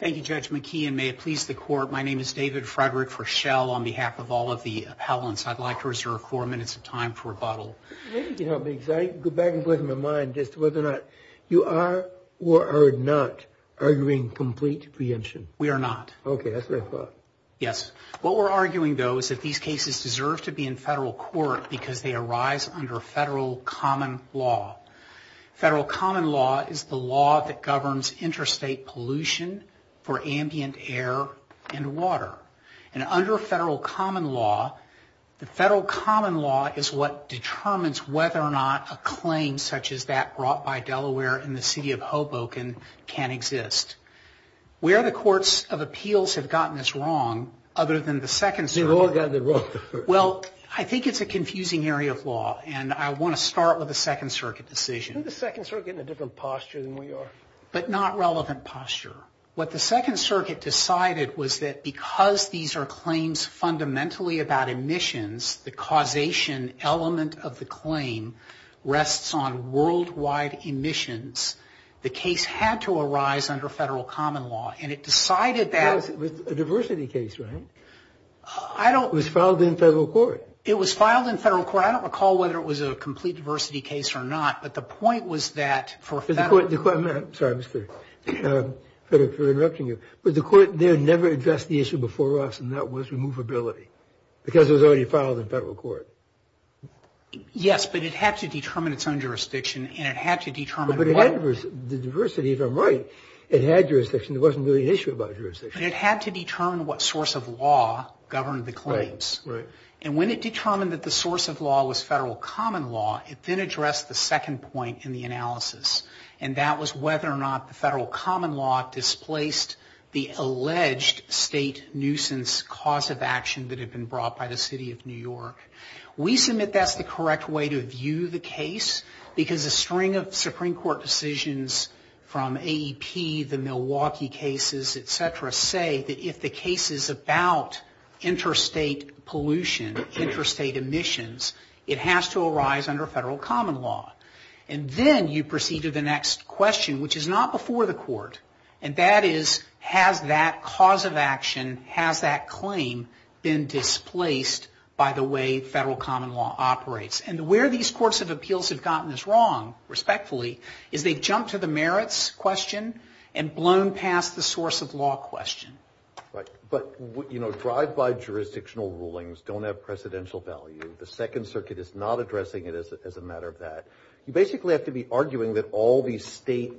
Thank you, Judge McKee, and may it please the Court, my name is David Frederick for Shell. On behalf of all of the appellants, I'd like to reserve four minutes of time for rebuttal. You are or are not arguing complete preemption? We are not. Yes. What we're arguing, though, is that these cases deserve to be in federal court because they arise under federal common law. Federal common law is the law that governs interstate pollution for ambient air and water. And under federal common law, the federal common law is what determines whether or not a claim such as that brought by Delaware in the City of Hoboken can exist. Where the courts of appeals have gotten this wrong, other than the Second Circuit... They've all gotten it wrong. Well, I think it's a confusing area of law, and I want to start with the Second Circuit decision. Isn't the Second Circuit in a different posture than we are? But not relevant posture. What the Second Circuit decided was that because these are claims fundamentally about emissions, the causation element of the claim rests on worldwide emissions. The case had to arise under federal common law, and it decided that... It was a diversity case, right? I don't... It was filed in federal court. It was filed in federal court. I don't recall whether it was a complete diversity case or not, but the point was that for federal... Sorry for interrupting you. But the court there never addressed the issue before us, and that was removability. Because it was already filed in federal court. Yes, but it had to determine its own jurisdiction, and it had to determine what... But the diversity, if I'm right, it had jurisdiction. There wasn't really an issue about jurisdiction. But it had to determine what source of law governed the claims. Right. And when it determined that the source of law was federal common law, it then addressed the second point in the analysis, and that was whether or not the federal common law displaced the alleged state nuisance cause of action that had been brought by the city of New York. We submit that's the correct way to view the case, because a string of Supreme Court decisions from AEP, the Milwaukee cases, et cetera, say that if the case is about interstate pollution, interstate emissions, it has to arise under federal common law. And then you proceed to the next question, which is not before the court. And that is, has that cause of action, has that claim been displaced by the way federal common law operates? And where these courts of appeals have gotten this wrong, respectfully, is they've jumped to the merits question and blown past the source of law question. Right. But, you know, drive-by jurisdictional rulings don't have precedential value. The Second Circuit is not addressing it as a matter of that. You basically have to be arguing that all these state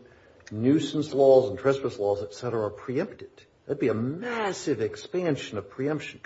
nuisance laws and trespass laws, et cetera, are preempted. That would be a massive expansion of federal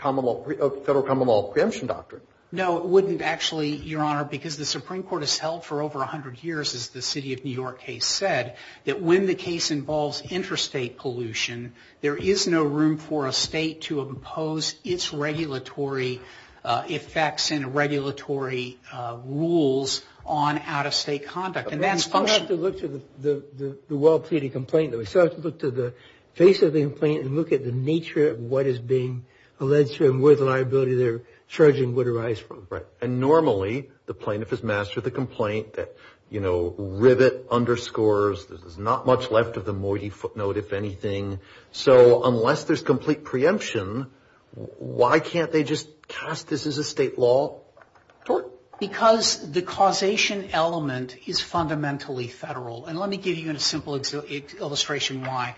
common law preemption doctrine. No, it wouldn't actually, Your Honor, because the Supreme Court has held for over 100 years, as the City of New York case said, that when the case involves interstate pollution, there is no room for a state to impose its regulatory effects and regulatory rules on out-of-state conduct. And that's function. But we still have to look to the well-pleaded complaint, though. We still have to look to the face of the complaint and look at the nature of what is being alleged to and where the liability they're charging would arise from. Right. And normally, the plaintiff has mastered the complaint that, you know, rivet, underscores, there's not much left of the moiety footnote, if anything. So unless there's complete preemption, why can't they just cast this as a state law tort? Because the causation element is fundamentally federal. And let me give you a simple illustration why.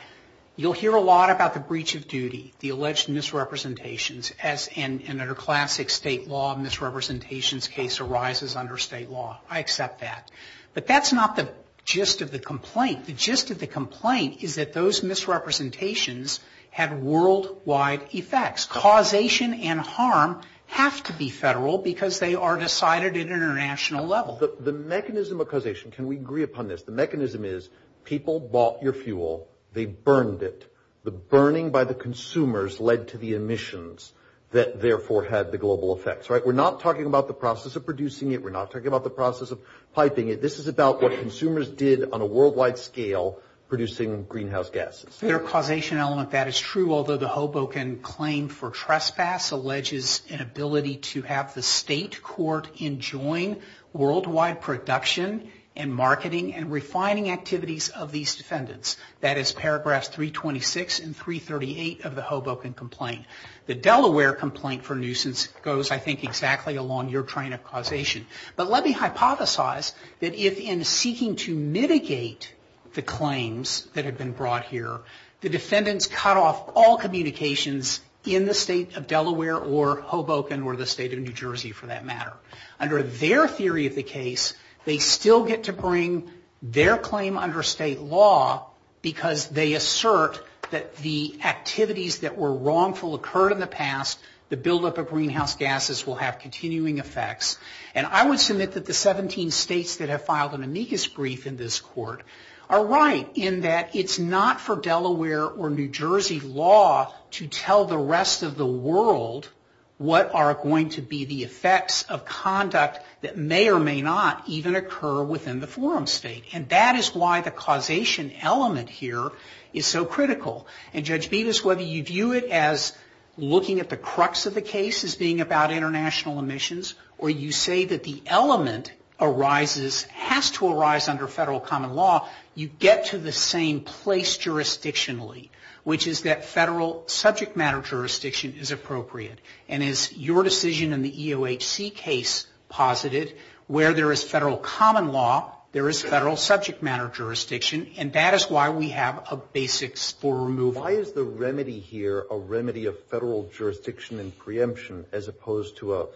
You'll hear a lot about the breach of duty, the alleged misrepresentations, as in a classic state law misrepresentations case arises under state law. I accept that. But that's not the gist of the complaint. The gist of the complaint is that those misrepresentations have worldwide effects. Causation and harm have to be federal because they are decided at an international level. The mechanism of causation, can we agree upon this? The mechanism is people bought your fuel. They burned it. The burning by the consumers led to the emissions that therefore had the global effects. Right. We're not talking about the process of producing it. We're not talking about the process of piping it. This is about what consumers did on a worldwide scale producing greenhouse gases. Federal causation element, that is true, although the Hoboken claim for trespass alleges an ability to have the state court enjoin worldwide production and marketing and refining activities of these defendants. That is paragraphs 326 and 338 of the Hoboken complaint. The Delaware complaint for nuisance goes, I think, exactly along your train of causation. But let me hypothesize that if in seeking to mitigate the claims that had been brought here, the defendants cut off all communications in the state of Delaware or Hoboken or the state of New Jersey for that matter. Under their theory of the case, they still get to bring their claim under state law because they assert that the activities that were wrongful occurred in the past. The buildup of greenhouse gases will have continuing effects. And I would submit that the 17 states that have filed an amicus brief in this court are right in that it's not for Delaware or New Jersey law to tell the rest of the world what are going to be the effects of conduct that may or may not even occur within the forum state. And that is why the causation element here is so critical. And Judge Bevis, whether you view it as looking at the crux of the case as being about international emissions or you say that the element arises, has to arise under federal common law, you get to the same place jurisdictionally, which is that federal subject matter jurisdiction is appropriate. And as your decision in the EOHC case posited, where there is federal common law, there is federal subject matter jurisdiction. And that is why we have a basics for removal. Why is the remedy here a remedy of federal jurisdiction and preemption as opposed to a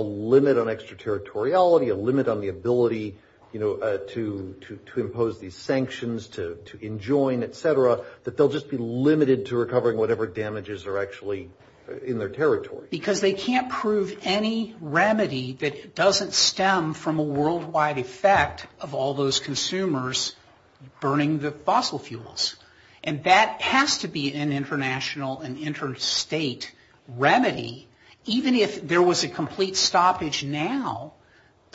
limit on extraterritoriality, a limit on the ability, you know, to impose these sanctions, to enjoin, et cetera, that they'll just be limited to recovering whatever damages are actually in their territory? Because they can't prove any remedy that doesn't stem from a worldwide effect of all those consumers burning the fossil fuels. And that has to be an international and interstate remedy. Even if there was a complete stoppage now,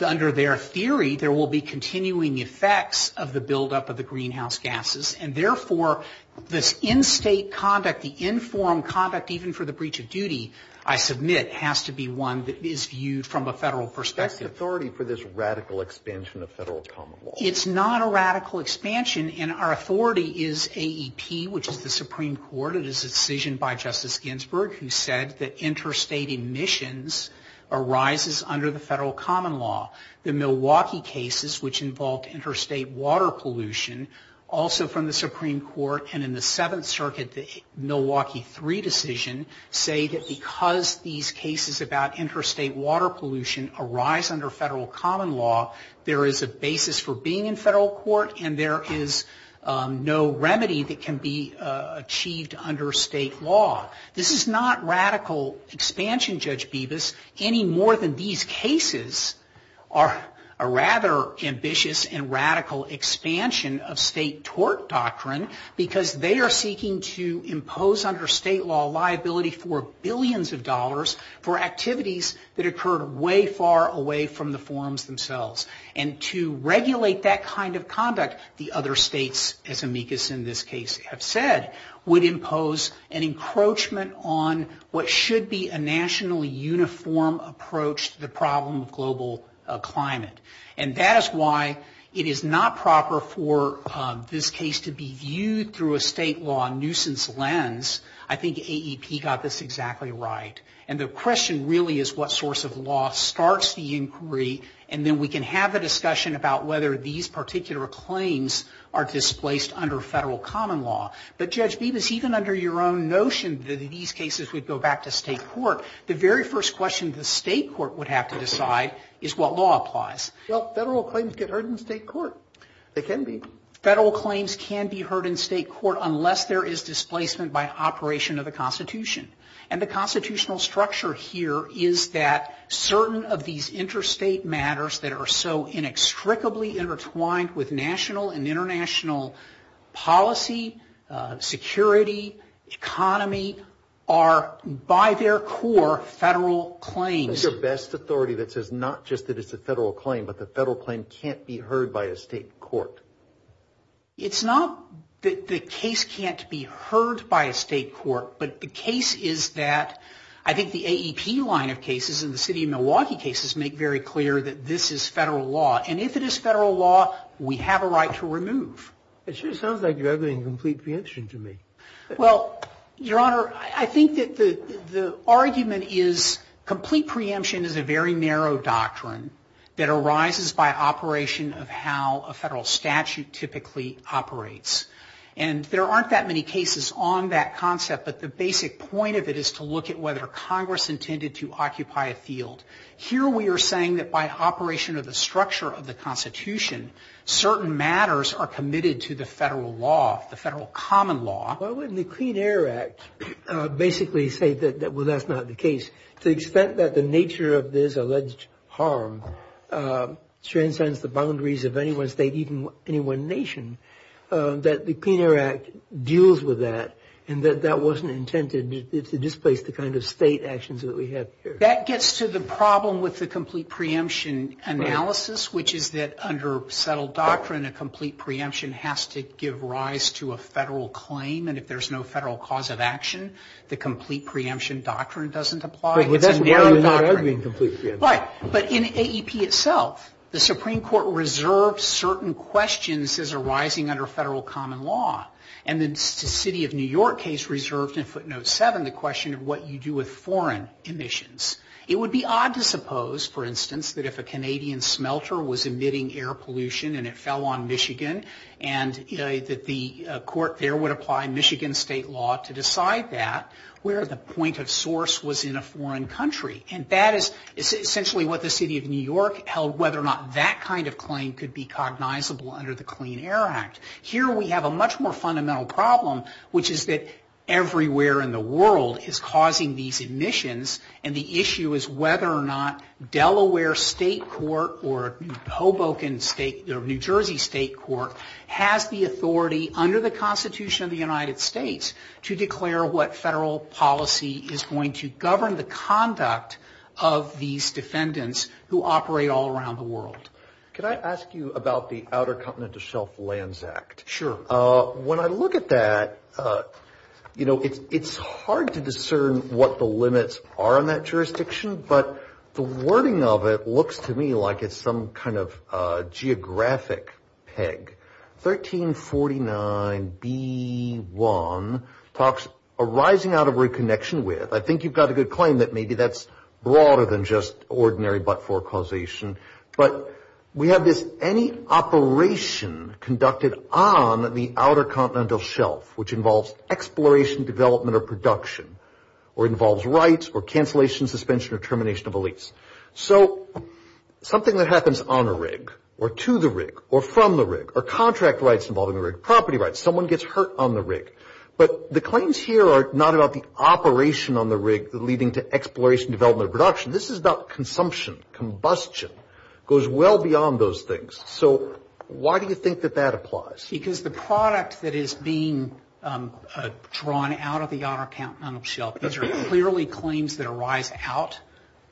under their theory, there will be continuing effects of the buildup of the greenhouse gases. And therefore, this in-state conduct, the in-form conduct, even for the breach of duty, I submit, has to be one that is viewed from a federal perspective. That's authority for this radical expansion of federal common law. It's not a radical expansion. And our authority is AEP, which is the Supreme Court. It is a decision by Justice Ginsburg who said that interstate emissions arises under the federal common law. The Milwaukee cases, which involved interstate water pollution, also from the Supreme Court, and in the Seventh Circuit, the Milwaukee III decision, say that because these cases about interstate water pollution arise under federal common law, there is a basis for being in federal court, and there is no remedy that can be achieved under state law. This is not radical expansion, Judge Bibas. Any more than these cases are a rather ambitious and radical expansion of state tort doctrine, because they are seeking to impose under state law liability for billions of dollars for activities that occurred way far away from the forums themselves. And to regulate that kind of conduct, the other states, as amicus in this case have said, would impose an encroachment on what should be a nationally uniform approach to the problem of global climate. And that is why it is not proper for this case to be viewed through a state law nuisance lens. I think AEP got this exactly right. And the question really is what source of law starts the inquiry, and then we can have a discussion about whether these particular claims are displaced under federal common law. But, Judge Bibas, even under your own notion that these cases would go back to state court, the very first question the state court would have to decide is what law applies. Well, federal claims get heard in state court. They can be. Federal claims can be heard in state court unless there is displacement by operation of the Constitution. And the constitutional structure here is that certain of these interstate matters that are so inextricably intertwined with national and international policy, security, economy, are by their core federal claims. What is your best authority that says not just that it's a federal claim, but the federal claim can't be heard by a state court? It's not that the case can't be heard by a state court, but the case is that I think the AEP line of cases and the city of Milwaukee cases make very clear that this is federal law. And if it is federal law, we have a right to remove. It sure sounds like you have a complete preemption to me. Well, Your Honor, I think that the argument is complete preemption is a very narrow doctrine that arises by operation of how a federal statute typically operates. And there aren't that many cases on that concept, but the basic point of it is to look at whether Congress intended to occupy a field. Here we are saying that by operation of the structure of the Constitution, certain matters are committed to the federal law, the federal common law. Why wouldn't the Clean Air Act basically say that that's not the case, to the extent that the nature of this alleged harm transcends the boundaries of any one state, even any one nation, that the Clean Air Act deals with that, and that that wasn't intended to displace the kind of state actions that we have here. That gets to the problem with the complete preemption analysis, which is that under settled doctrine, a complete preemption has to give rise to a federal claim. And if there's no federal cause of action, the complete preemption doctrine doesn't apply. It's a narrow doctrine. But that's why you're arguing complete preemption. Right. But in AEP itself, the Supreme Court reserves certain questions as arising under federal common law. And the City of New York case reserved in footnote 7 the question of what you do with foreign emissions. It would be odd to suppose, for instance, that if a Canadian smelter was emitting air pollution and it fell on Michigan, and that the court there would apply Michigan state law to decide that, where the point of source was in a foreign country. And that is essentially what the City of New York held, whether or not that kind of claim could be cognizable under the Clean Air Act. Here we have a much more fundamental problem, which is that everywhere in the world is causing these emissions. And the issue is whether or not Delaware State Court or Hoboken State or New Jersey State Court has the authority under the Constitution of the United States to declare what federal policy is going to govern the conduct of these defendants who operate all around the world. Can I ask you about the Outer Continental Shelf Lands Act? Sure. When I look at that, you know, it's hard to discern what the limits are in that jurisdiction, but the wording of it looks to me like it's some kind of geographic peg. 1349b1 talks arising out of reconnection with. I think you've got a good claim that maybe that's broader than just ordinary but-for causation. But we have this any operation conducted on the Outer Continental Shelf, which involves exploration, development, or production, or involves rights or cancellation, suspension, or termination of a lease. So something that happens on a rig or to the rig or from the rig or contract rights involving the rig, property rights, someone gets hurt on the rig. But the claims here are not about the operation on the rig leading to exploration, development, or production. This is about consumption. Combustion goes well beyond those things. So why do you think that that applies? Because the product that is being drawn out of the Outer Continental Shelf, these are clearly claims that arise out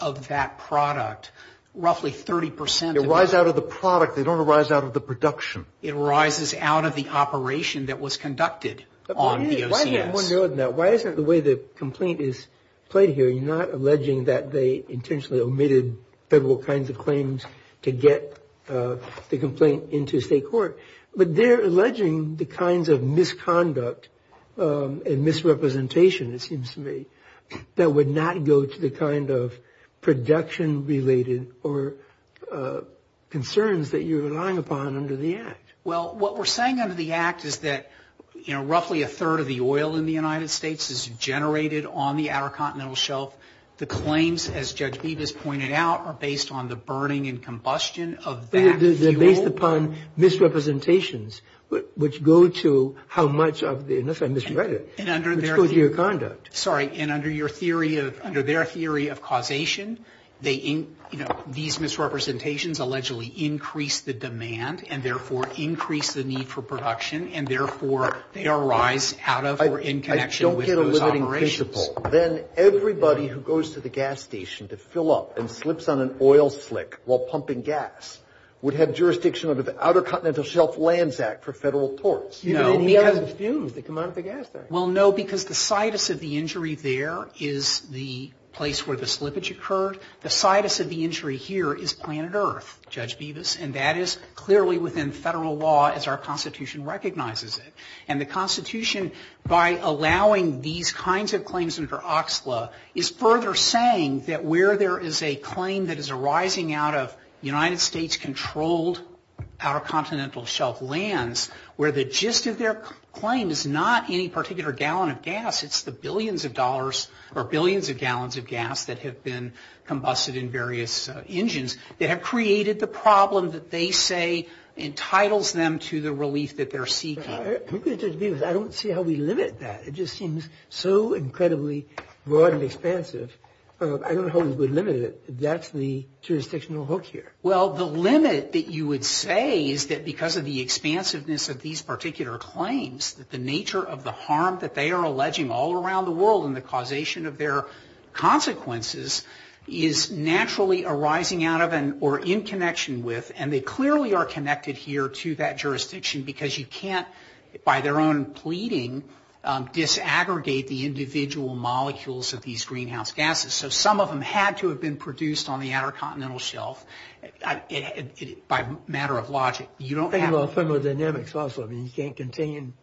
of that product. Roughly 30% of- They arise out of the product. They don't arise out of the production. It arises out of the operation that was conducted on the OCS. Why is it the way the complaint is played here, you're not alleging that they intentionally omitted federal kinds of claims to get the complaint into state court, but they're alleging the kinds of misconduct and misrepresentation, it seems to me, that would not go to the kind of production-related or concerns that you're relying upon under the Act? Well, what we're saying under the Act is that, you know, roughly a third of the oil in the United States is generated on the Outer Continental Shelf. The claims, as Judge Bevis pointed out, are based on the burning and combustion of that fuel. They're based upon misrepresentations, which go to how much of the- unless I misread it- And under their- Which goes to your conduct. Sorry. And under your theory of- Under their theory of causation, they- And therefore, they arise out of or in connection with those operations. I don't get a limiting principle. Then everybody who goes to the gas station to fill up and slips on an oil slick while pumping gas would have jurisdiction under the Outer Continental Shelf Lands Act for federal torts. No, because- Even if he has the fumes that come out of the gas station. Well, no, because the situs of the injury there is the place where the slippage occurred. The situs of the injury here is planet Earth, Judge Bevis, and that is clearly within federal law as our Constitution recognizes it. And the Constitution, by allowing these kinds of claims under OXLA, is further saying that where there is a claim that is arising out of United States-controlled Outer Continental Shelf Lands, where the gist of their claim is not any particular gallon of gas, it's the billions of dollars or billions of gallons of gas that have been combusted in various engines that have created the problem that they say entitles them to the relief that they're seeking. I don't see how we limit that. It just seems so incredibly broad and expansive. I don't know how we would limit it. That's the jurisdictional hook here. Well, the limit that you would say is that because of the expansiveness of these particular claims, that the nature of the harm that they are alleging all around the world and the causation of their consequences is naturally arising out of or in connection with, and they clearly are connected here to that jurisdiction because you can't, by their own pleading, disaggregate the individual molecules of these greenhouse gases. So some of them had to have been produced on the Outer Continental Shelf by matter of logic. Think about thermodynamics also. You can't contain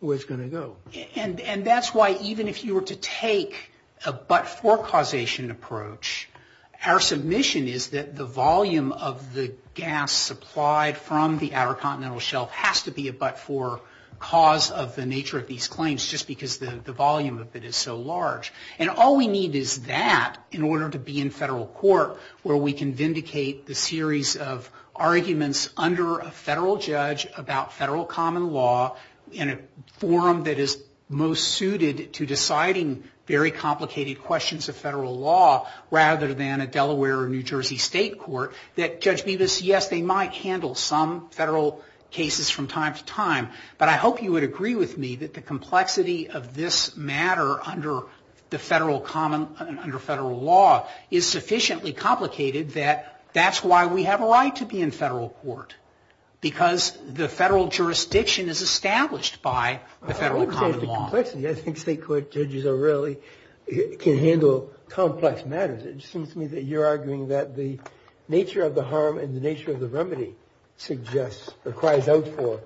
where it's going to go. And that's why even if you were to take a but-for causation approach, our submission is that the volume of the gas supplied from the Outer Continental Shelf has to be a but-for cause of the nature of these claims just because the volume of it is so large. And all we need is that in order to be in federal court where we can vindicate the series of arguments under a federal judge about federal common law in a forum that is most suited to deciding very complicated questions of federal law rather than a Delaware or New Jersey state court, that Judge Bevis, yes, they might handle some federal cases from time to time, but I hope you would agree with me that the complexity of this matter under federal law is sufficiently complicated that that's why we have a right to be in federal court, because the federal jurisdiction is established by the federal common law. I don't understand the complexity. I think state court judges rarely can handle complex matters. It seems to me that you're arguing that the nature of the harm and the nature of the remedy suggests or cries out for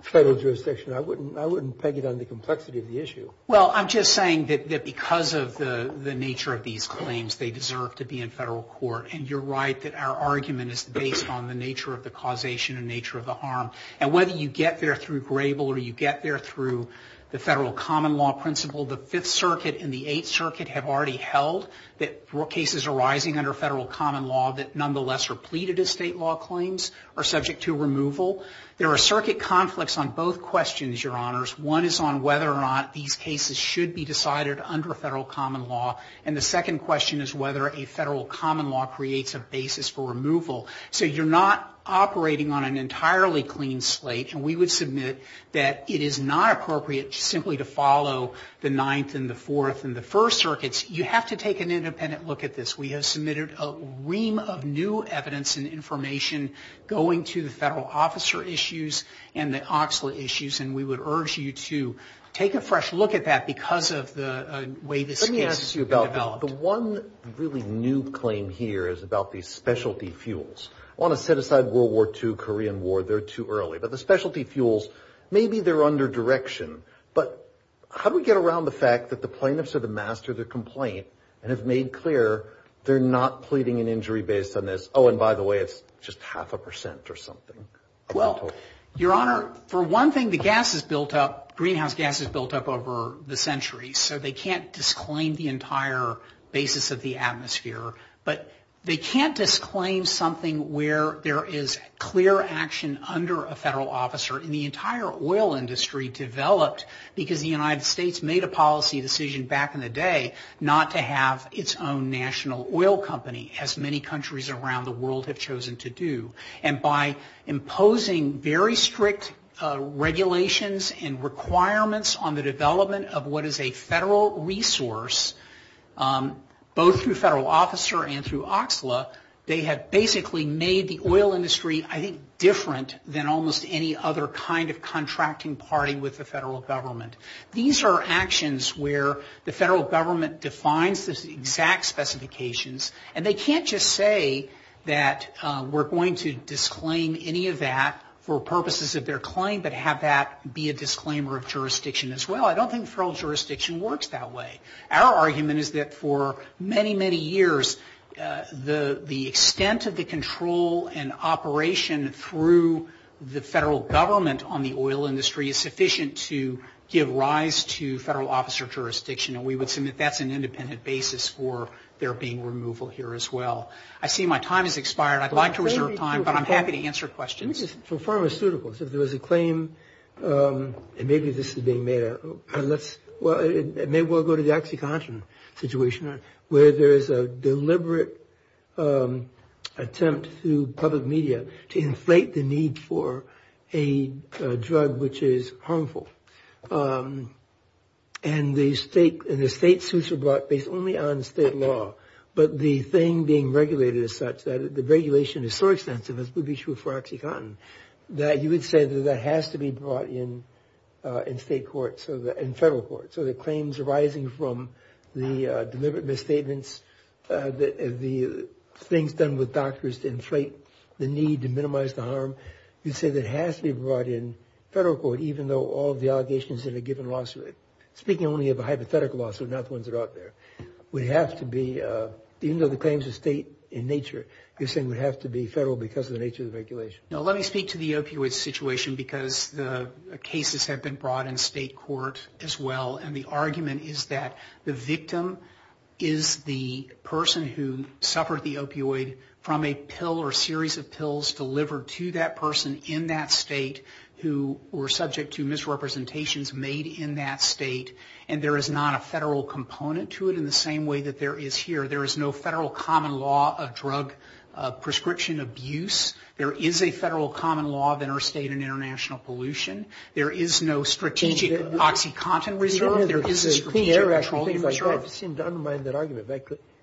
federal jurisdiction. I wouldn't peg it on the complexity of the issue. Well, I'm just saying that because of the nature of these claims, they deserve to be in federal court. And you're right that our argument is based on the nature of the causation and nature of the harm. And whether you get there through Grable or you get there through the federal common law principle, the Fifth Circuit and the Eighth Circuit have already held that cases arising under federal common law that nonetheless are pleaded as state law claims are subject to removal. There are circuit conflicts on both questions, Your Honors. One is on whether or not these cases should be decided under federal common law. And the second question is whether a federal common law creates a basis for removal. So you're not operating on an entirely clean slate. And we would submit that it is not appropriate simply to follow the Ninth and the Fourth and the First Circuits. You have to take an independent look at this. We have submitted a ream of new evidence and information going to the federal officer issues and the OXLA issues. And we would urge you to take a fresh look at that because of the way this case could be developed. Let me ask you about the one really new claim here is about these specialty fuels. I want to set aside World War II, Korean War. They're too early. But the specialty fuels, maybe they're under direction. But how do we get around the fact that the plaintiffs are the master of the complaint and have made clear they're not pleading an injury based on this? Oh, and by the way, it's just half a percent or something. Well, Your Honor, for one thing, the gas has built up. Greenhouse gas has built up over the centuries. So they can't disclaim the entire basis of the atmosphere. But they can't disclaim something where there is clear action under a federal officer. And the entire oil industry developed because the United States made a policy decision back in the day not to have its own national oil company as many countries around the world have chosen to do. And by imposing very strict regulations and requirements on the development of what is a federal resource, both through federal officer and through OXLA, they have basically made the oil industry, I think, different than almost any other kind of contracting party with the federal government. These are actions where the federal government defines the exact specifications. And they can't just say that we're going to disclaim any of that for purposes of their claim but have that be a disclaimer of jurisdiction as well. I don't think federal jurisdiction works that way. Our argument is that for many, many years, the extent of the control and operation through the federal government on the oil industry is sufficient to give rise to federal officer jurisdiction. And we would submit that's an independent basis for there being removal here as well. I see my time has expired. I'd like to reserve time, but I'm happy to answer questions. For pharmaceuticals, if there was a claim, and maybe this is being made, maybe we'll go to the OxyContin situation where there is a deliberate attempt through public media to inflate the need for a drug which is harmful. And the state suits are brought based only on state law. But the thing being regulated is such that the regulation is so extensive, as would be true for OxyContin, that you would say that that has to be brought in state court and federal court. So the claims arising from the deliberate misstatements, the things done with doctors to inflate the need to minimize the harm, you'd say that has to be brought in federal court, even though all of the allegations in a given lawsuit, speaking only of a hypothetical lawsuit, not the ones that are out there, would have to be, even though the claims are state in nature, you're saying would have to be federal because of the nature of the regulation. Now, let me speak to the opioid situation, because the cases have been brought in state court as well. And the argument is that the victim is the person who suffered the opioid from a pill or series of pills delivered to that person in that state who were subject to misrepresentations made in that state. And there is not a federal component to it in the same way that there is here. There is no federal common law of drug prescription abuse. There is a federal common law of interstate and international pollution. There is no strategic OxyContin reserve. There is a strategic control reserve. I don't want to seem to undermine that argument, but I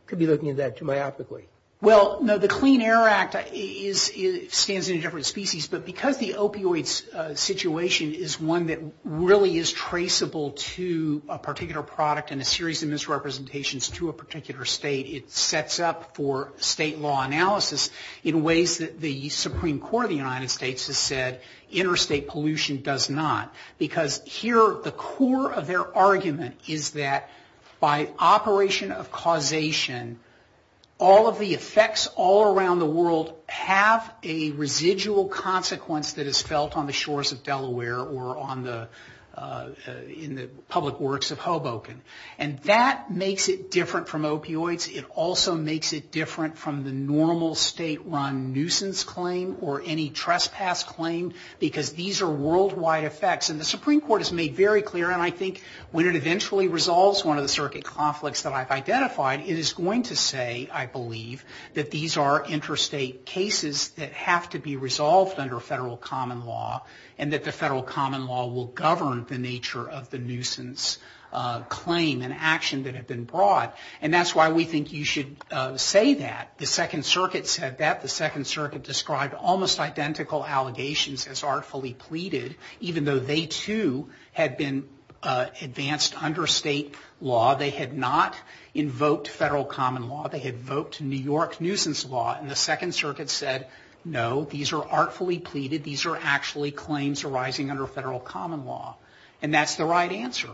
could be looking at that too myopically. Well, no, the Clean Air Act stands in a different species, but because the opioid situation is one that really is traceable to a particular product and a series of misrepresentations to a particular state, it sets up for state law analysis in ways that the Supreme Court of the United States has said interstate pollution does not. Because here the core of their argument is that by operation of causation, all of the effects all around the world have a residual consequence that is felt on the shores of Delaware or in the public works of Hoboken. And that makes it different from opioids. It also makes it different from the normal state-run nuisance claim or any trespass claim, because these are worldwide effects. And the Supreme Court has made very clear, and I think when it eventually resolves one of the circuit conflicts that I've identified, it is going to say, I believe, that these are interstate cases that have to be resolved under federal common law and that the federal common law will govern the nature of the nuisance claim and action that have been brought. And that's why we think you should say that. The Second Circuit said that. The Second Circuit described almost identical allegations as artfully pleaded, even though they, too, had been advanced under state law. They had not invoked federal common law. They had invoked New York nuisance law. And the Second Circuit said, no, these are artfully pleaded. These are actually claims arising under federal common law. And that's the right answer.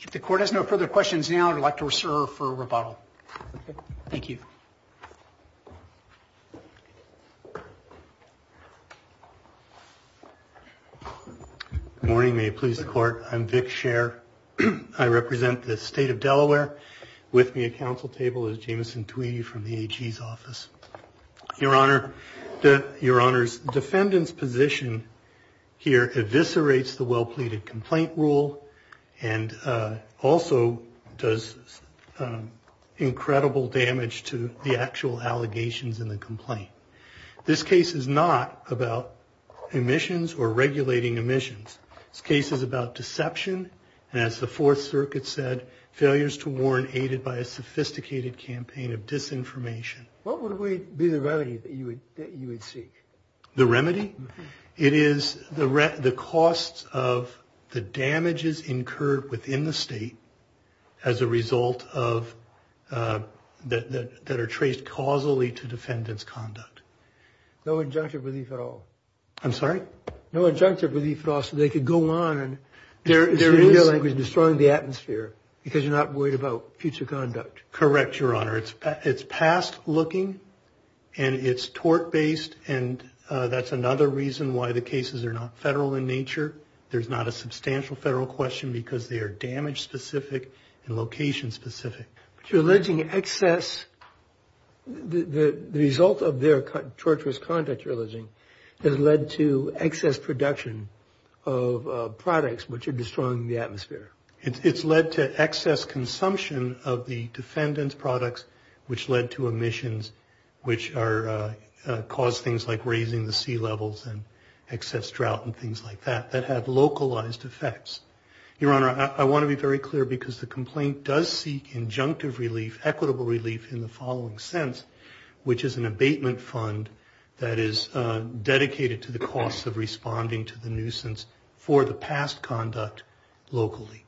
If the Court has no further questions now, I'd like to reserve for rebuttal. Thank you. Good morning. May it please the Court. I'm Vic Scher. I represent the state of Delaware. With me at council table is Jameson Tweedy from the AG's office. Your Honor, your Honor's defendant's position here eviscerates the well-pleaded complaint rule and also does incredible damage to the actual allegations in the complaint. This case is not about omissions or regulating omissions. This case is about deception and, as the Fourth Circuit said, failures to warn aided by a sophisticated campaign of disinformation. What would be the remedy that you would seek? The remedy? It is the costs of the damages incurred within the state as a result of that are traced causally to defendant's conduct. No injunctive relief at all. I'm sorry? No injunctive relief at all so they could go on and destroy the atmosphere because you're not worried about future conduct. Correct, Your Honor. It's past looking and it's tort-based, and that's another reason why the cases are not federal in nature. There's not a substantial federal question because they are damage-specific and location-specific. But you're alleging excess. The result of their torturous conduct, you're alleging, has led to excess production of products which are destroying the atmosphere. It's led to excess consumption of the defendant's products which led to emissions which cause things like raising the sea levels and excess drought and things like that that have localized effects. Your Honor, I want to be very clear because the complaint does seek injunctive relief, equitable relief, in the following sense, which is an abatement fund that is dedicated to the costs of responding to the nuisance for the past conduct locally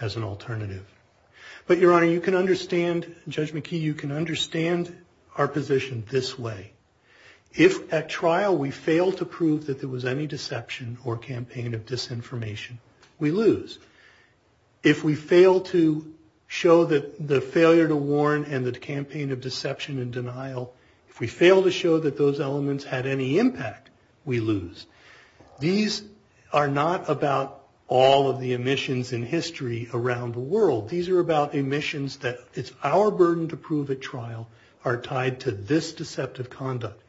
as an alternative. But, Your Honor, you can understand, Judge McKee, you can understand our position this way. If at trial we fail to prove that there was any deception or campaign of disinformation, we lose. If we fail to show the failure to warn and the campaign of deception and denial, if we fail to show that those elements had any impact, we lose. These are not about all of the emissions in history around the world. These are about emissions that it's our burden to prove at trial are tied to this deceptive conduct.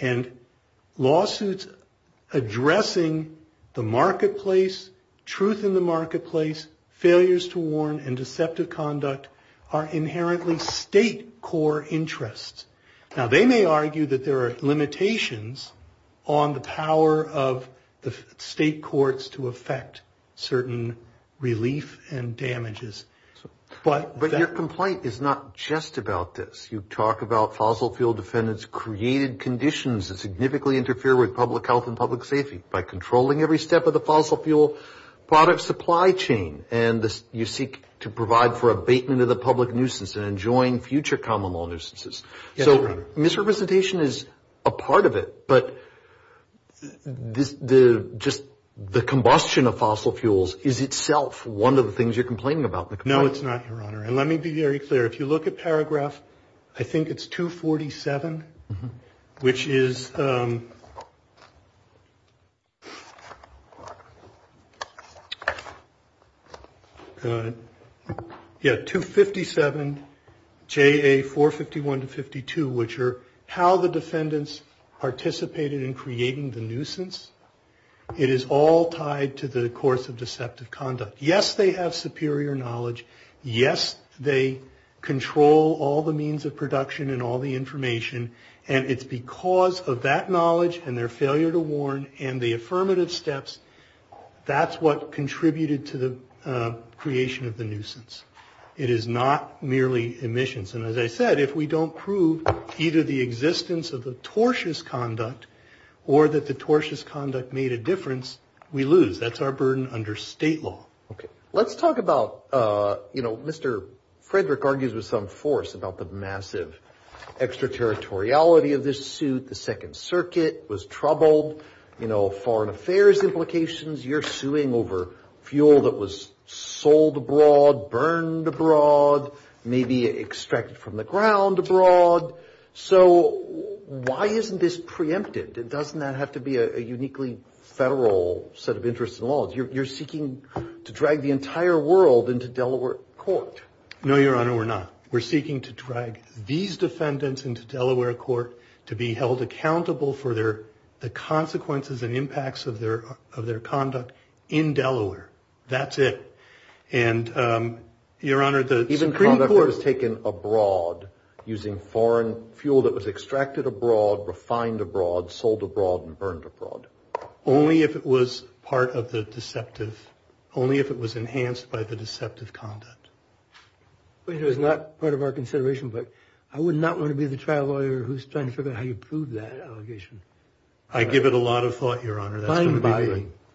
And lawsuits addressing the marketplace, truth in the marketplace, failures to warn and deceptive conduct are inherently state core interests. Now, they may argue that there are limitations on the power of the state courts to affect certain relief and damages. But your complaint is not just about this. You talk about fossil fuel defendants created conditions that significantly interfere with public health and public safety by controlling every step of the fossil fuel product supply chain. And you seek to provide for abatement of the public nuisance and join future common law nuisances. So misrepresentation is a part of it, but just the combustion of fossil fuels is itself one of the things you're complaining about. No, it's not, Your Honor. And let me be very clear. If you look at paragraph, I think it's 247, which is, yeah, 257 JA 451 to 52, which are how the defendants participated in creating the nuisance. It is all tied to the course of deceptive conduct. Yes, they have superior knowledge. Yes, they control all the means of production and all the information. And it's because of that knowledge and their failure to warn and the affirmative steps, that's what contributed to the creation of the nuisance. It is not merely emissions. And as I said, if we don't prove either the existence of the tortious conduct or that the tortious conduct made a difference, we lose. That's our burden under state law. Okay. Let's talk about, you know, Mr. Frederick argues with some force about the massive extraterritoriality of this suit. The Second Circuit was troubled, you know, foreign affairs implications. You're suing over fuel that was sold abroad, burned abroad, maybe extracted from the ground abroad. So why isn't this preempted? Doesn't that have to be a uniquely federal set of interests and laws? You're seeking to drag the entire world into Delaware court. No, Your Honor, we're not. We're seeking to drag these defendants into Delaware court to be held accountable for the consequences and impacts of their conduct in Delaware. That's it. And, Your Honor, the Supreme Court— Even conduct that was taken abroad using foreign fuel that was extracted abroad, refined abroad, sold abroad, and burned abroad. Only if it was part of the deceptive—only if it was enhanced by the deceptive conduct. It was not part of our consideration, but I would not want to be the trial lawyer who's trying to figure out how you prove that allegation. I give it a lot of thought, Your Honor.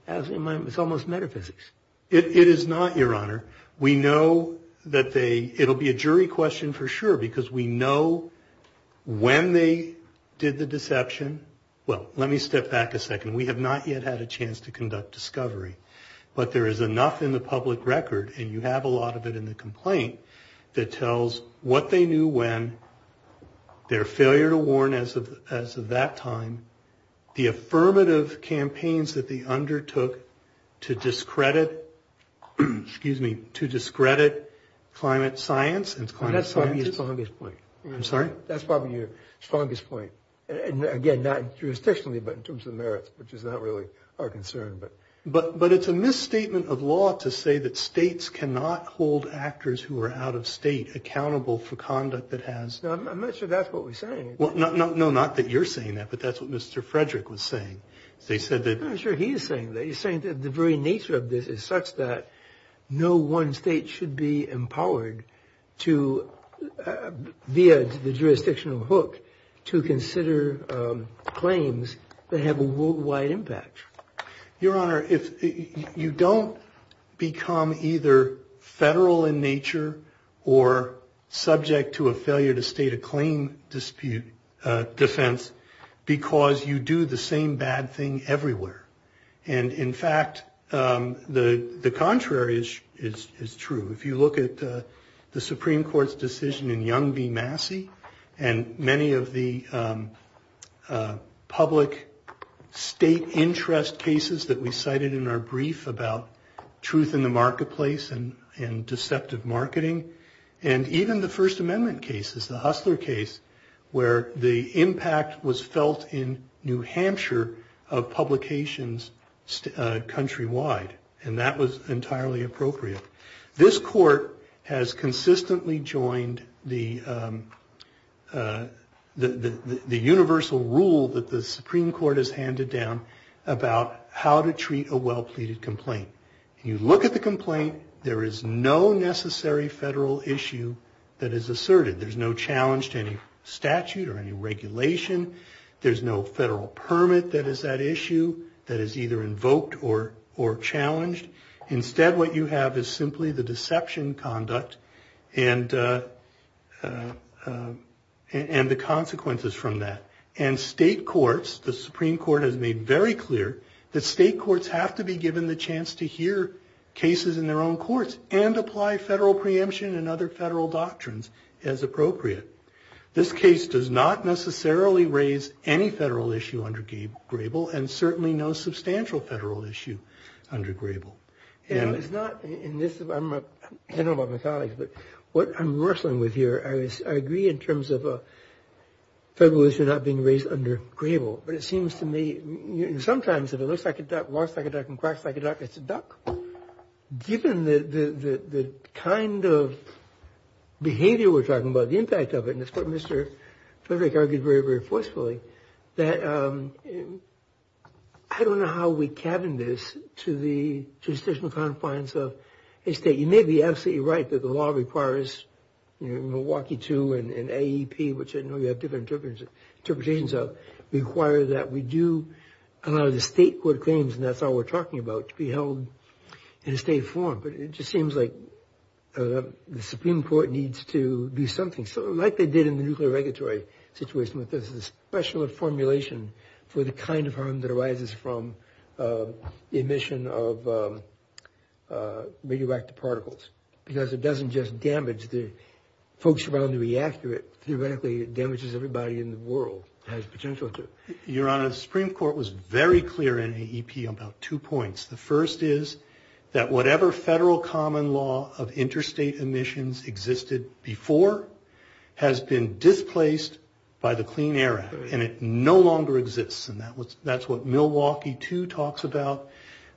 It's almost metaphysics. It is not, Your Honor. We know that they—it'll be a jury question for sure because we know when they did the deception. Well, let me step back a second. We have not yet had a chance to conduct discovery. But there is enough in the public record, and you have a lot of it in the complaint, that tells what they knew when, their failure to warn as of that time, the affirmative campaigns that they undertook to discredit— excuse me—to discredit climate science and climate scientists. That's probably your strongest point. I'm sorry? That's probably your strongest point. Again, not jurisdictionally, but in terms of merits, which is not really our concern. But it's a misstatement of law to say that states cannot hold actors who are out of state accountable for conduct that has— No, I'm not sure that's what we're saying. No, not that you're saying that, but that's what Mr. Frederick was saying. They said that— I'm not sure he's saying that. He's saying that the very nature of this is such that no one state should be empowered to, via the jurisdictional hook, to consider claims that have a worldwide impact. Your Honor, you don't become either federal in nature or subject to a failure-to-state-a-claim defense because you do the same bad thing everywhere. And, in fact, the contrary is true. If you look at the Supreme Court's decision in Young v. Massey and many of the public state interest cases that we cited in our brief about truth in the marketplace and deceptive marketing, and even the First Amendment cases, the Hustler case, where the impact was felt in New Hampshire of publications countrywide, and that was entirely appropriate, this Court has consistently joined the universal rule that the Supreme Court has handed down about how to treat a well-pleaded complaint. When you look at the complaint, there is no necessary federal issue that is asserted. There's no challenge to any statute or any regulation. There's no federal permit that is at issue that is either invoked or challenged. Instead, what you have is simply the deception conduct and the consequences from that. And state courts, the Supreme Court has made very clear that state courts have to be given the chance to hear cases in their own courts and apply federal preemption and other federal doctrines as appropriate. This case does not necessarily raise any federal issue under Grable and certainly no substantial federal issue under Grable. I don't know about my colleagues, but what I'm wrestling with here, I agree in terms of a federal issue not being raised under Grable, but it seems to me sometimes if it looks like a duck, walks like a duck, and quacks like a duck, it's a duck. Given the kind of behavior we're talking about, the impact of it, and it's what Mr. Frederick argued very, very forcefully, that I don't know how we cabin this to the jurisdictional confines of a state. You may be absolutely right that the law requires Milwaukee 2 and AEP, which I know you have different interpretations of, require that we do a lot of the state court claims, and that's all we're talking about, to be held in a state forum. But it just seems like the Supreme Court needs to do something. So like they did in the nuclear regulatory situation, this is a special formulation for the kind of harm that arises from emission of radioactive particles because it doesn't just damage the folks around the reactor. It theoretically damages everybody in the world. Your Honor, the Supreme Court was very clear in AEP about two points. The first is that whatever federal common law of interstate emissions existed before has been displaced by the Clean Air Act, and it no longer exists. And that's what Milwaukee 2 talks about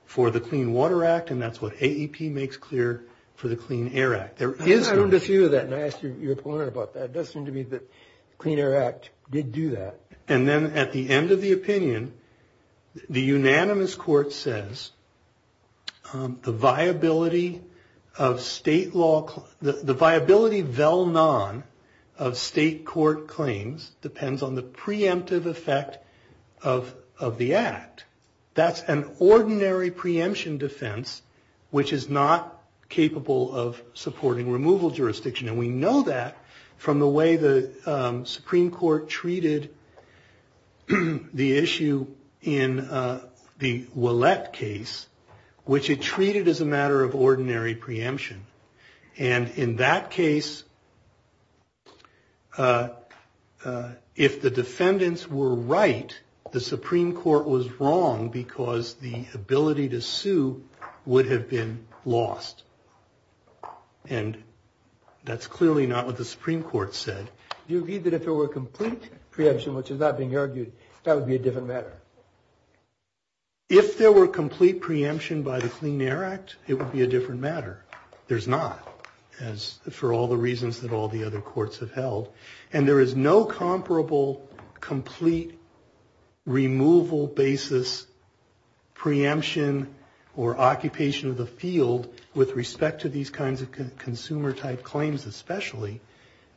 for the Clean Water Act, and that's what AEP makes clear for the Clean Air Act. I've heard a few of that, and I asked your opponent about that. It does seem to me that the Clean Air Act did do that. And then at the end of the opinion, the unanimous court says the viability of state law – the viability vel non of state court claims depends on the preemptive effect of the act. That's an ordinary preemption defense, which is not capable of supporting removal jurisdiction. And we know that from the way the Supreme Court treated the issue in the Ouellette case, which it treated as a matter of ordinary preemption. And in that case, if the defendants were right, the Supreme Court was wrong because the ability to sue would have been lost. And that's clearly not what the Supreme Court said. Do you agree that if there were complete preemption, which is not being argued, that would be a different matter? If there were complete preemption by the Clean Air Act, it would be a different matter. There's not, for all the reasons that all the other courts have held. And there is no comparable complete removal basis preemption or occupation of the field with respect to these kinds of consumer-type claims, especially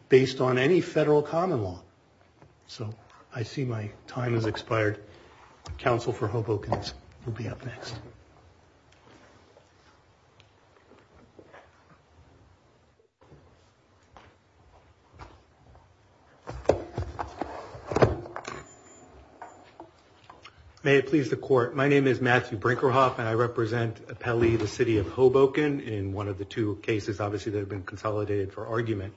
based on any federal common law. So I see my time has expired. Counsel for Hoboken will be up next. Thank you. May it please the Court. My name is Matthew Brinkerhoff, and I represent Pele, the city of Hoboken, in one of the two cases, obviously, that have been consolidated for argument.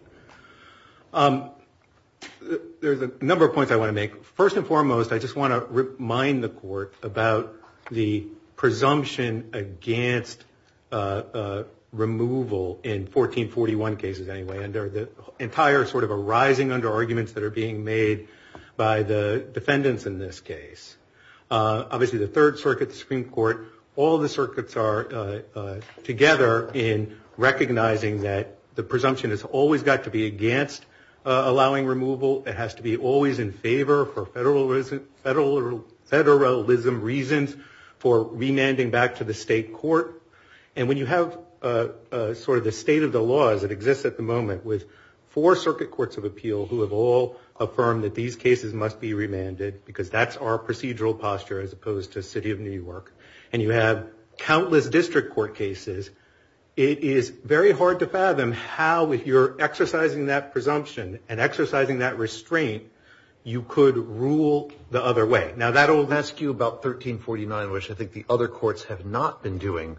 There's a number of points I want to make. First and foremost, I just want to remind the Court about the presumption against removal in 1441 cases, anyway, and the entire sort of arising under arguments that are being made by the defendants in this case. Obviously, the Third Circuit, the Supreme Court, all the circuits are together in recognizing that the presumption has always got to be against allowing removal. It has to be always in favor for federalism reasons for remanding back to the state court. And when you have sort of the state of the law as it exists at the moment with four circuit courts of appeal who have all affirmed that these cases must be remanded, because that's our procedural posture as opposed to city of New York, and you have countless district court cases, it is very hard to fathom how, if you're exercising that presumption and exercising that restraint, you could rule the other way. Now, that will ask you about 1349, which I think the other courts have not been doing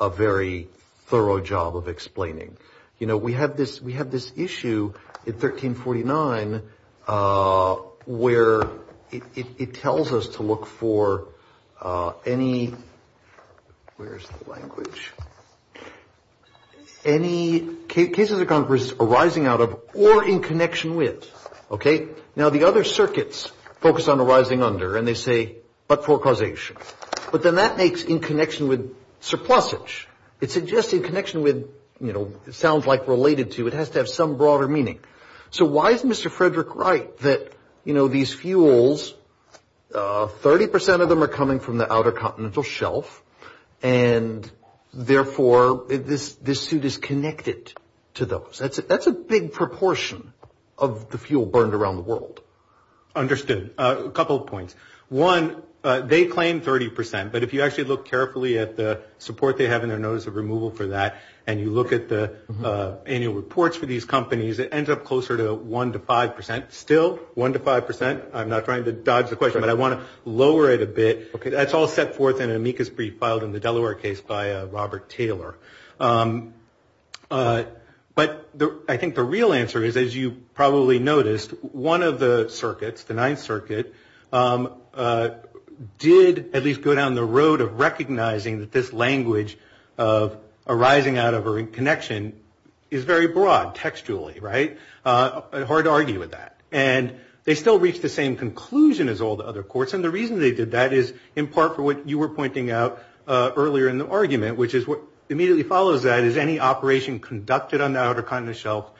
a very thorough job of explaining. You know, we have this issue in 1349 where it tells us to look for any, where is the language, any cases arising out of or in connection with, okay? Now, the other circuits focus on arising under, and they say, but for causation. But then that makes in connection with surplusage. It suggests in connection with, you know, it sounds like related to, it has to have some broader meaning. So why is Mr. Frederick Wright that, you know, these fuels, 30 percent of them are coming from the outer continental shelf, and therefore this suit is connected to those? That's a big proportion of the fuel burned around the world. Understood. A couple of points. One, they claim 30 percent, but if you actually look carefully at the support they have in their notice of removal for that and you look at the annual reports for these companies, it ends up closer to 1 to 5 percent. Still 1 to 5 percent? I'm not trying to dodge the question, but I want to lower it a bit. That's all set forth in an amicus brief filed in the Delaware case by Robert Taylor. But I think the real answer is, as you probably noticed, one of the circuits, the Ninth Circuit, did at least go down the road of recognizing that this language of arising out of a connection is very broad textually, right? Hard to argue with that. And they still reached the same conclusion as all the other courts, and the reason they did that is in part for what you were pointing out earlier in the argument, which is what immediately follows that is any operation conducted on the outer continental shelf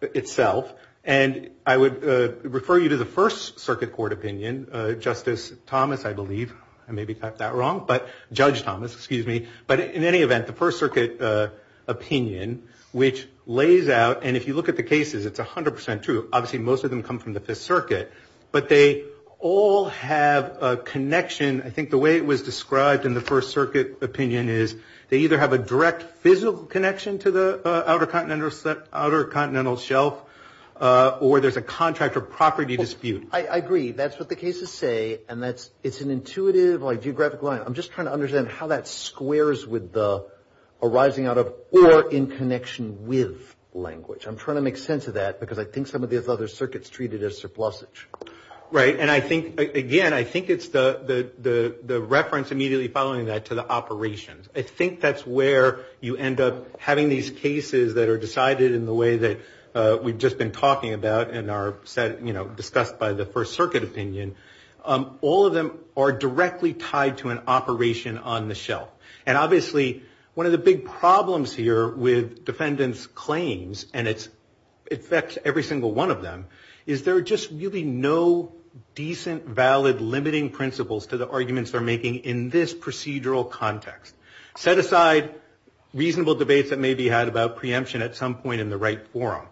itself, and I would refer you to the First Circuit Court opinion, Justice Thomas, I believe. I may have got that wrong. But Judge Thomas, excuse me. But in any event, the First Circuit opinion, which lays out, and if you look at the cases, it's 100 percent true. Obviously, most of them come from the Fifth Circuit, but they all have a connection. I think the way it was described in the First Circuit opinion is they either have a direct physical connection to the outer continental shelf or there's a contract or property dispute. I agree. That's what the cases say, and it's an intuitive, like, geographic line. I'm just trying to understand how that squares with the arising out of or in connection with language. I'm trying to make sense of that because I think some of these other circuits treat it as surplusage. Right. And I think, again, I think it's the reference immediately following that to the operations. I think that's where you end up having these cases that are decided in the way that we've just been talking about and are, you know, discussed by the First Circuit opinion. All of them are directly tied to an operation on the shelf. And obviously, one of the big problems here with defendants' claims, and it affects every single one of them, is there are just really no decent, valid, limiting principles to the arguments they're making in this procedural context. Set aside reasonable debates that may be had about preemption at some point in the right forum.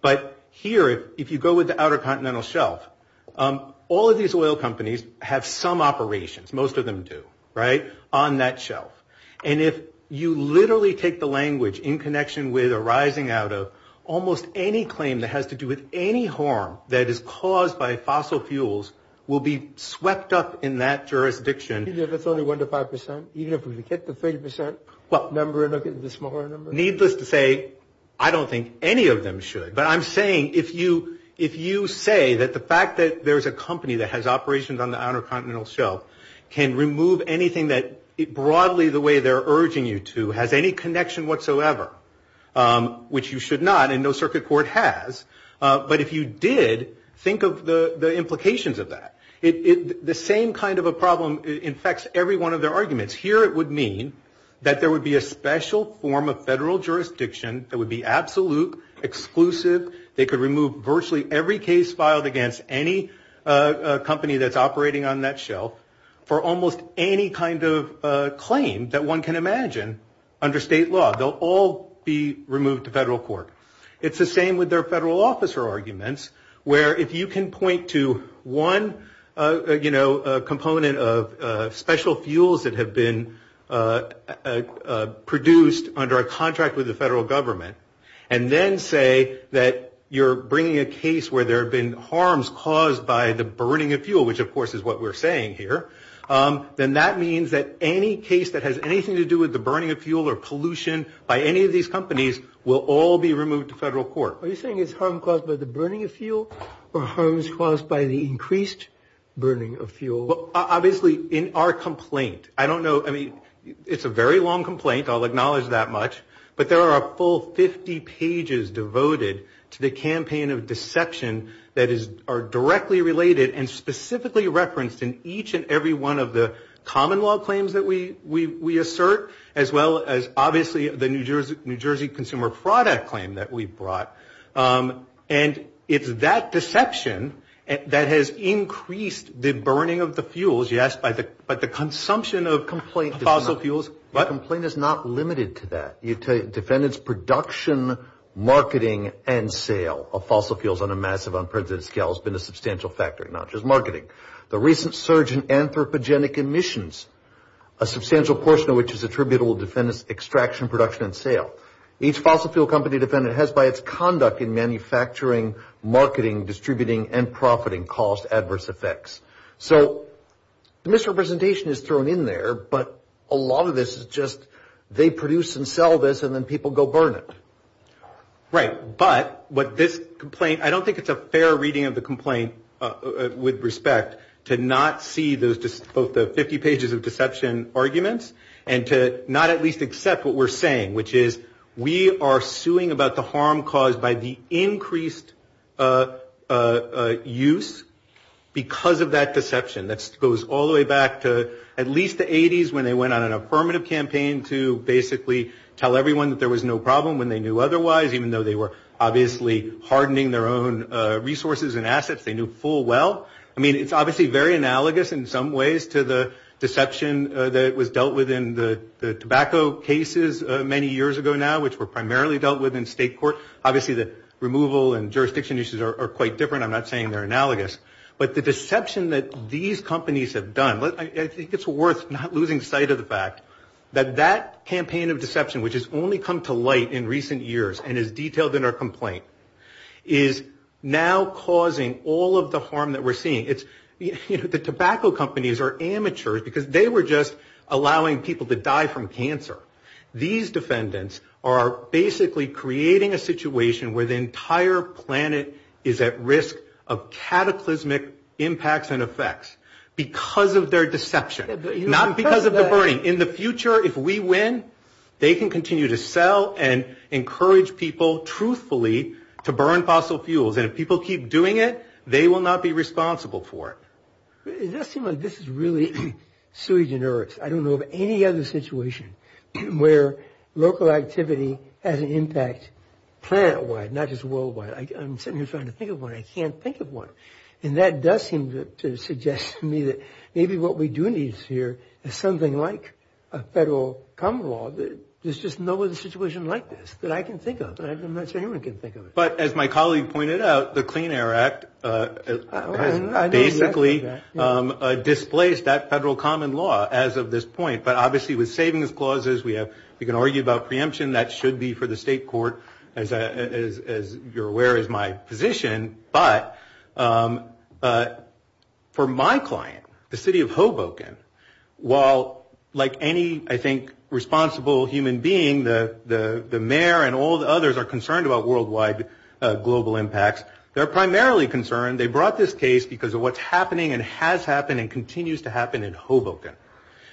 But here, if you go with the outer continental shelf, all of these oil companies have some operations. Most of them do. Right. On that shelf. And if you literally take the language, in connection with, arising out of, almost any claim that has to do with any harm that is caused by fossil fuels will be swept up in that jurisdiction. Even if it's only 1 to 5 percent? Even if we could get to 30 percent? What number? The smaller number? Needless to say, I don't think any of them should. But I'm saying, if you say that the fact that there's a company that has operations on the outer continental shelf can remove anything that, broadly, the way they're urging you to, has any connection whatsoever, which you should not, and no circuit court has. But if you did, think of the implications of that. The same kind of a problem infects every one of their arguments. Here it would mean that there would be a special form of federal jurisdiction that would be absolute, exclusive. They could remove virtually every case filed against any company that's operating on that shelf, for almost any kind of claim that one can imagine, under state law. They'll all be removed to federal court. It's the same with their federal officer arguments, where if you can point to one, you know, component of special fuels that have been produced under a contract with the federal government, and then say that you're bringing a case where there have been harms caused by the burning of fuel, which, of course, is what we're saying here, then that means that any case that has anything to do with the burning of fuel or pollution by any of these companies will all be removed to federal court. Are you saying it's harm caused by the burning of fuel, or harms caused by the increased burning of fuel? Well, obviously, in our complaint, I don't know, I mean, it's a very long complaint, I'll acknowledge that much, but there are a full 50 pages devoted to the campaign of deception that are directly related and specifically referenced in each and every one of the common law claims that we assert, as well as, obviously, the New Jersey Consumer Fraud Act claim that we brought. And it's that deception that has increased the burning of the fuels, yes, but the consumption of fossil fuels. The complaint is not limited to that. Defendants' production, marketing, and sale of fossil fuels on a massive, unprecedented scale has been a substantial factor, not just marketing. The recent surge in anthropogenic emissions, a substantial portion of which is attributable to defendants' extraction, production, and sale. Each fossil fuel company defendant has, by its conduct in manufacturing, marketing, distributing, and profiting, caused adverse effects. So, misrepresentation is thrown in there, but a lot of this is just, they produce and sell this, and then people go burn it. Right, but, what this complaint, I don't think it's a fair reading of the complaint, with respect, to not see both the 50 pages of deception arguments, and to not at least accept what we're saying, which is, we are suing about the harm caused by the increased use because of that deception. That goes all the way back to at least the 80s, when they went on an affirmative campaign to basically tell everyone that there was no problem when they knew otherwise, even though they were obviously hardening their own resources and assets, they knew full well. I mean, it's obviously very analogous in some ways to the deception that was dealt with in the tobacco cases many years ago now, which were primarily dealt with in state court. Obviously, the removal and jurisdiction issues are quite different. I'm not saying they're analogous, but the deception that these companies have done, I think it's worth not losing sight of the fact that that campaign of deception, which has only come to light in recent years and is detailed in our complaint, is now causing all of the harm that we're seeing. It's, you know, the tobacco companies are amateurs because they were just allowing people to die from cancer. These defendants are basically creating a situation where the entire planet is at risk of cataclysmic impacts and effects because of their deception, not because of the burning. In the future, if we win, they can continue to sell and encourage people truthfully to burn fossil fuels, and if people keep doing it, they will not be responsible for it. It does seem like this is really sui generis. I don't know of any other situation where local activity has an impact planet-wide, not just worldwide. I'm sitting here trying to think of one. I can't think of one. And that does seem to suggest to me that maybe what we do need to hear is something like a federal common law. There's just no other situation like this that I can think of. I'm not sure anyone can think of it. But as my colleague pointed out, the Clean Air Act basically displaced that federal common law as of this point. But obviously with savings clauses, we can argue about preemption. That should be for the state court, as you're aware is my position. But for my client, the city of Hoboken, while like any, I think, responsible human being, the mayor and all the others are concerned about worldwide global impacts, they're primarily concerned, they brought this case because of what's happening and has happened and continues to happen in Hoboken.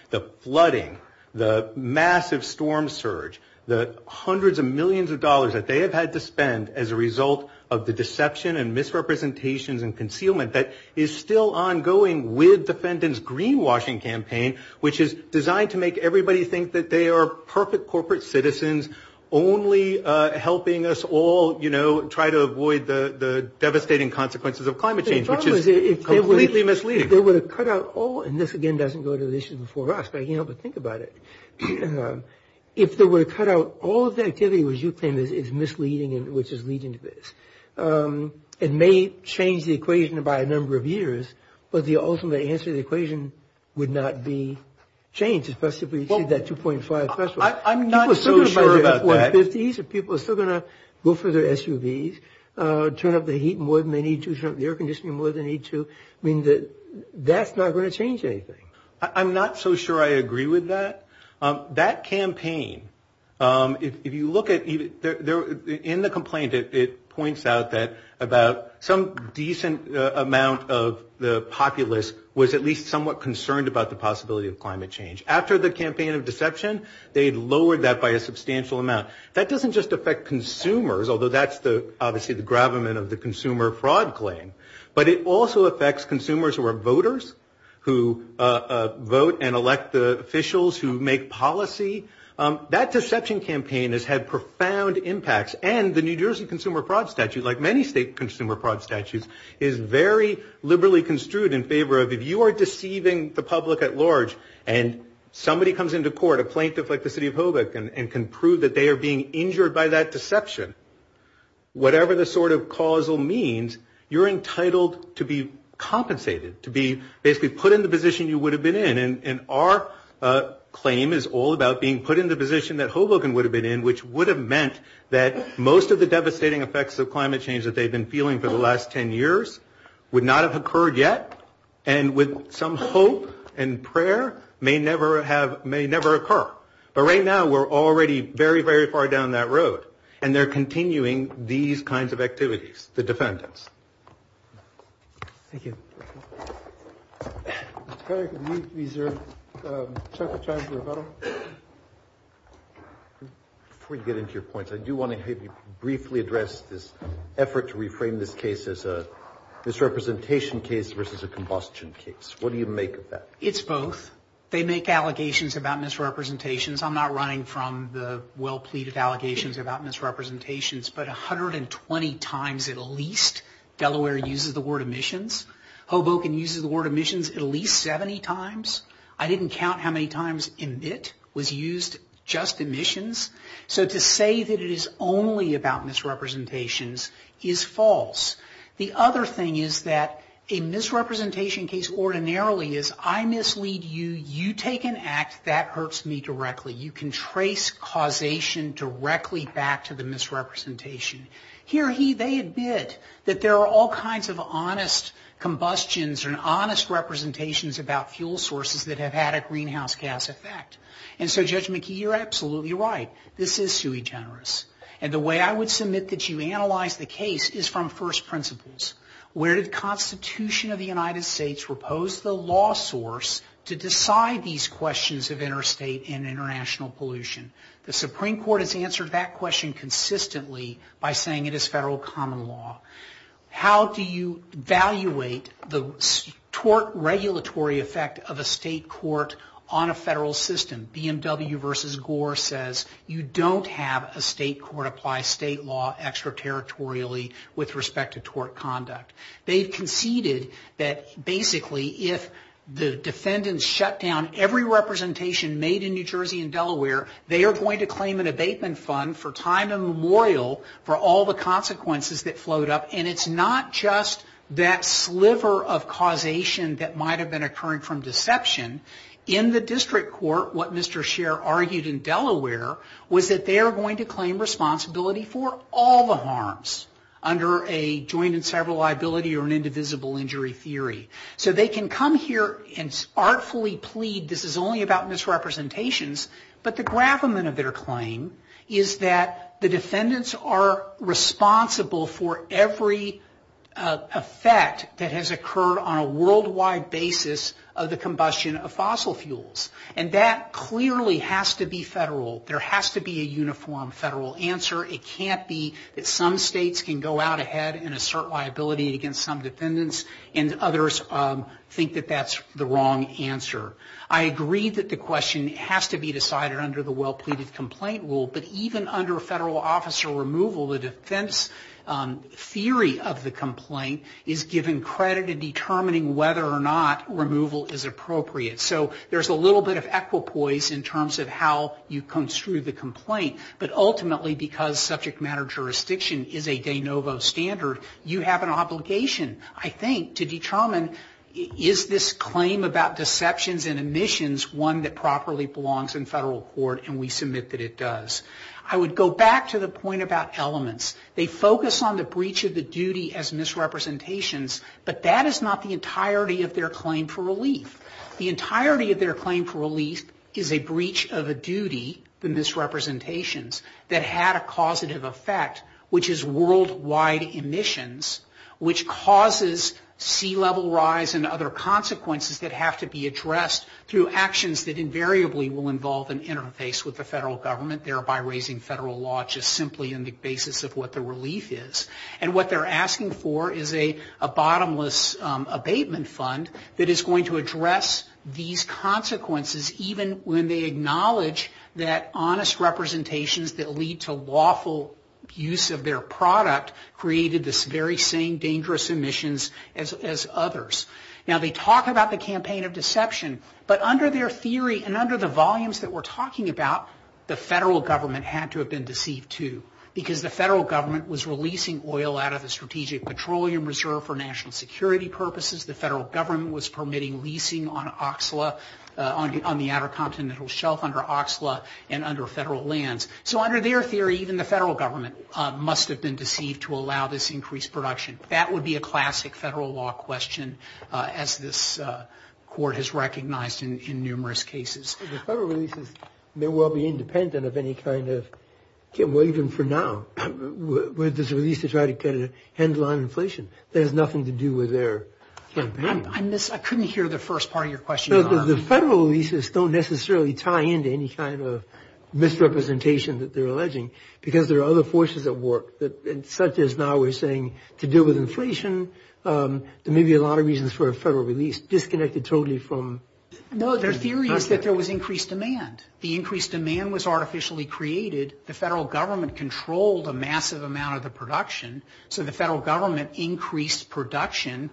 The flooding, the massive storm surge, the hundreds of millions of dollars that they have had to spend as a result of the deception and misrepresentations and concealment that is still ongoing with the defendant's greenwashing campaign, which is designed to make everybody think that they are perfect corporate citizens, only helping us all, you know, try to avoid the devastating consequences of climate change, which is completely misleading. If they were to cut out all, and this again doesn't go to the issue before us, but I can't help but think about it. If they were to cut out all of the activity which you claim is misleading and which is leading to this, it may change the equation by a number of years, but the ultimate answer to the equation would not be changed, especially if we exceed that 2.5 threshold. I'm not so sure about that. People are still going to buy their F-150s and people are still going to go for their SUVs, turn up the heat more than they need to, turn up the air conditioning more than they need to. I mean, that's not going to change anything. I'm not so sure I agree with that. That campaign, if you look at, in the complaint, it points out that about some decent amount of the populace was at least somewhat concerned about the possibility of climate change. After the campaign of deception, they had lowered that by a substantial amount. That doesn't just affect consumers, although that's obviously the gravamen of the consumer fraud claim, but it also affects consumers who are voters, who vote and elect the officials who make policy. That deception campaign has had profound impacts. And the New Jersey Consumer Fraud Statute, like many state consumer fraud statutes, is very liberally construed in favor of if you are deceiving the public at large and somebody comes into court, a plaintiff like the city of Hoboken, and can prove that they are being injured by that deception, whatever the sort of causal means, you're entitled to be compensated, to be basically put in the position you would have been in. And our claim is all about being put in the position that Hoboken would have been in, which would have meant that most of the devastating effects of climate change that they've been feeling for the last 10 years would not have occurred yet, and with some hope and prayer may never occur. But right now, we're already very, very far down that road. And they're continuing these kinds of activities, the defendants. Thank you. Mr. Carrick, would you reserve the charge of rebuttal? Before we get into your points, I do want to briefly address this effort to reframe this case as a misrepresentation case versus a combustion case. What do you make of that? It's both. They make allegations about misrepresentations. I'm not running from the well-pleaded allegations about misrepresentations, but 120 times at least Delaware uses the word emissions. Hoboken uses the word emissions at least 70 times. I didn't count how many times emit was used, just emissions. So to say that it is only about misrepresentations is false. The other thing is that a misrepresentation case ordinarily is I mislead you, you take an act, that hurts me directly. You can trace causation directly back to the misrepresentation. Here they admit that there are all kinds of honest combustions and honest representations about fuel sources that have had a greenhouse gas effect. And so Judge McKee, you're absolutely right. This is sui generis. And the way I would submit that you analyze the case is from first principles. Where did the Constitution of the United States propose the law source to decide these questions of interstate and international pollution? The Supreme Court has answered that question consistently by saying it is federal common law. How do you evaluate the tort regulatory effect of a state court on a federal system? BMW versus Gore says you don't have a state court apply state law extraterritorially with respect to tort conduct. They conceded that basically if the defendants shut down every representation made in New Jersey and Delaware, they are going to claim an abatement fund for time immemorial for all the consequences that float up. And it's not just that sliver of causation that might have been occurring from deception. In the district court, what Mr. Scheer argued in Delaware was that they are going to claim responsibility for all the harms under a joint and several liability or an indivisible injury theory. So they can come here and artfully plead this is only about misrepresentations, but the gravamen of their claim is that the defendants are responsible for every effect that has occurred on a worldwide basis of the combustion of fossil fuels. And that clearly has to be federal. There has to be a uniform federal answer. It can't be that some states can go out ahead and assert liability against some defendants and others think that that's the wrong answer. I agree that the question has to be decided under the well-pleaded complaint rule, but even under federal officer removal, the defense theory of the complaint is given credit in determining whether or not removal is appropriate. So there's a little bit of equipoise in terms of how you construe the complaint, but ultimately because subject matter jurisdiction is a de novo standard, you have an obligation, I think, to determine is this claim about deceptions and omissions one that properly belongs in federal court, and we submit that it does. I would go back to the point about elements. They focus on the breach of the duty as misrepresentations, but that is not the entirety of their claim for relief. The entirety of their claim for relief is a breach of a duty, the misrepresentations, that had a causative effect, which is worldwide emissions, which causes sea level rise and other consequences that have to be addressed through actions that invariably will involve an interface with the federal government, thereby raising federal law just simply on the basis of what the relief is. And what they're asking for is a bottomless abatement fund that is going to address these consequences even when they acknowledge that honest representations that lead to lawful use of their product created the very same dangerous emissions as others. Now, they talk about the campaign of deception, but under their theory and under the volumes that we're talking about, the federal government had to have been deceived too because the federal government was releasing oil out of the Strategic Petroleum Reserve for national security purposes. The federal government was permitting leasing on Oxla, on the Outer Continental Shelf under Oxla and under federal lands. So under their theory, even the federal government must have been deceived to allow this increased production. That would be a classic federal law question, as this court has recognized in numerous cases. The federal relief may well be independent of any kind of, well, even for now, where there's a release to try to handle on inflation. That has nothing to do with their campaign. I couldn't hear the first part of your question. The federal leases don't necessarily tie into any kind of misrepresentation that they're alleging because there are other forces at work, such as now we're saying to deal with inflation. There may be a lot of reasons for a federal release disconnected totally from. No, their theory is that there was increased demand. The increased demand was artificially created. The federal government controlled a massive amount of the production. So the federal government increased production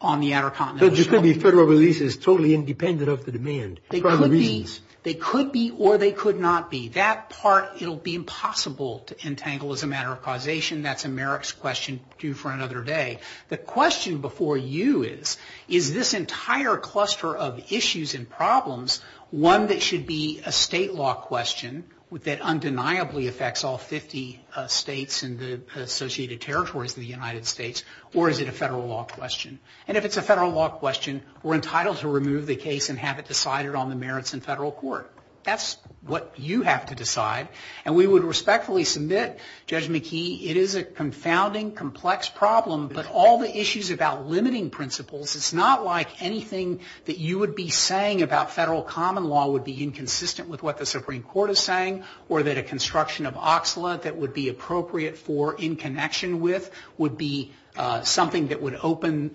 on the Outer Continental Shelf. So it could be federal releases totally independent of the demand for other reasons. They could be or they could not be. That part, it'll be impossible to entangle as a matter of causation. That's a Merrick's question due for another day. The question before you is, is this entire cluster of issues and problems one that should be a state law question that undeniably affects all 50 states and the associated territories of the United States, or is it a federal law question? And if it's a federal law question, we're entitled to remove the case and have it decided on the merits in federal court. That's what you have to decide. And we would respectfully submit, Judge McKee, it is a confounding, complex problem, but all the issues about limiting principles, it's not like anything that you would be saying about federal common law would be inconsistent with what the Supreme Court is saying or that a construction of OXLA that would be appropriate for in connection with would be something that would open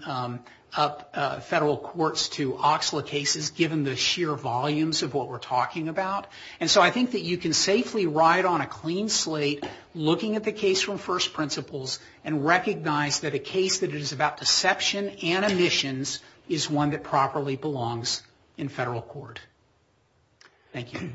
up federal courts to OXLA cases given the sheer volumes of what we're talking about. And so I think that you can safely ride on a clean slate looking at the case from first principles and recognize that a case that is about deception and omissions is one that properly belongs in federal court. Thank you.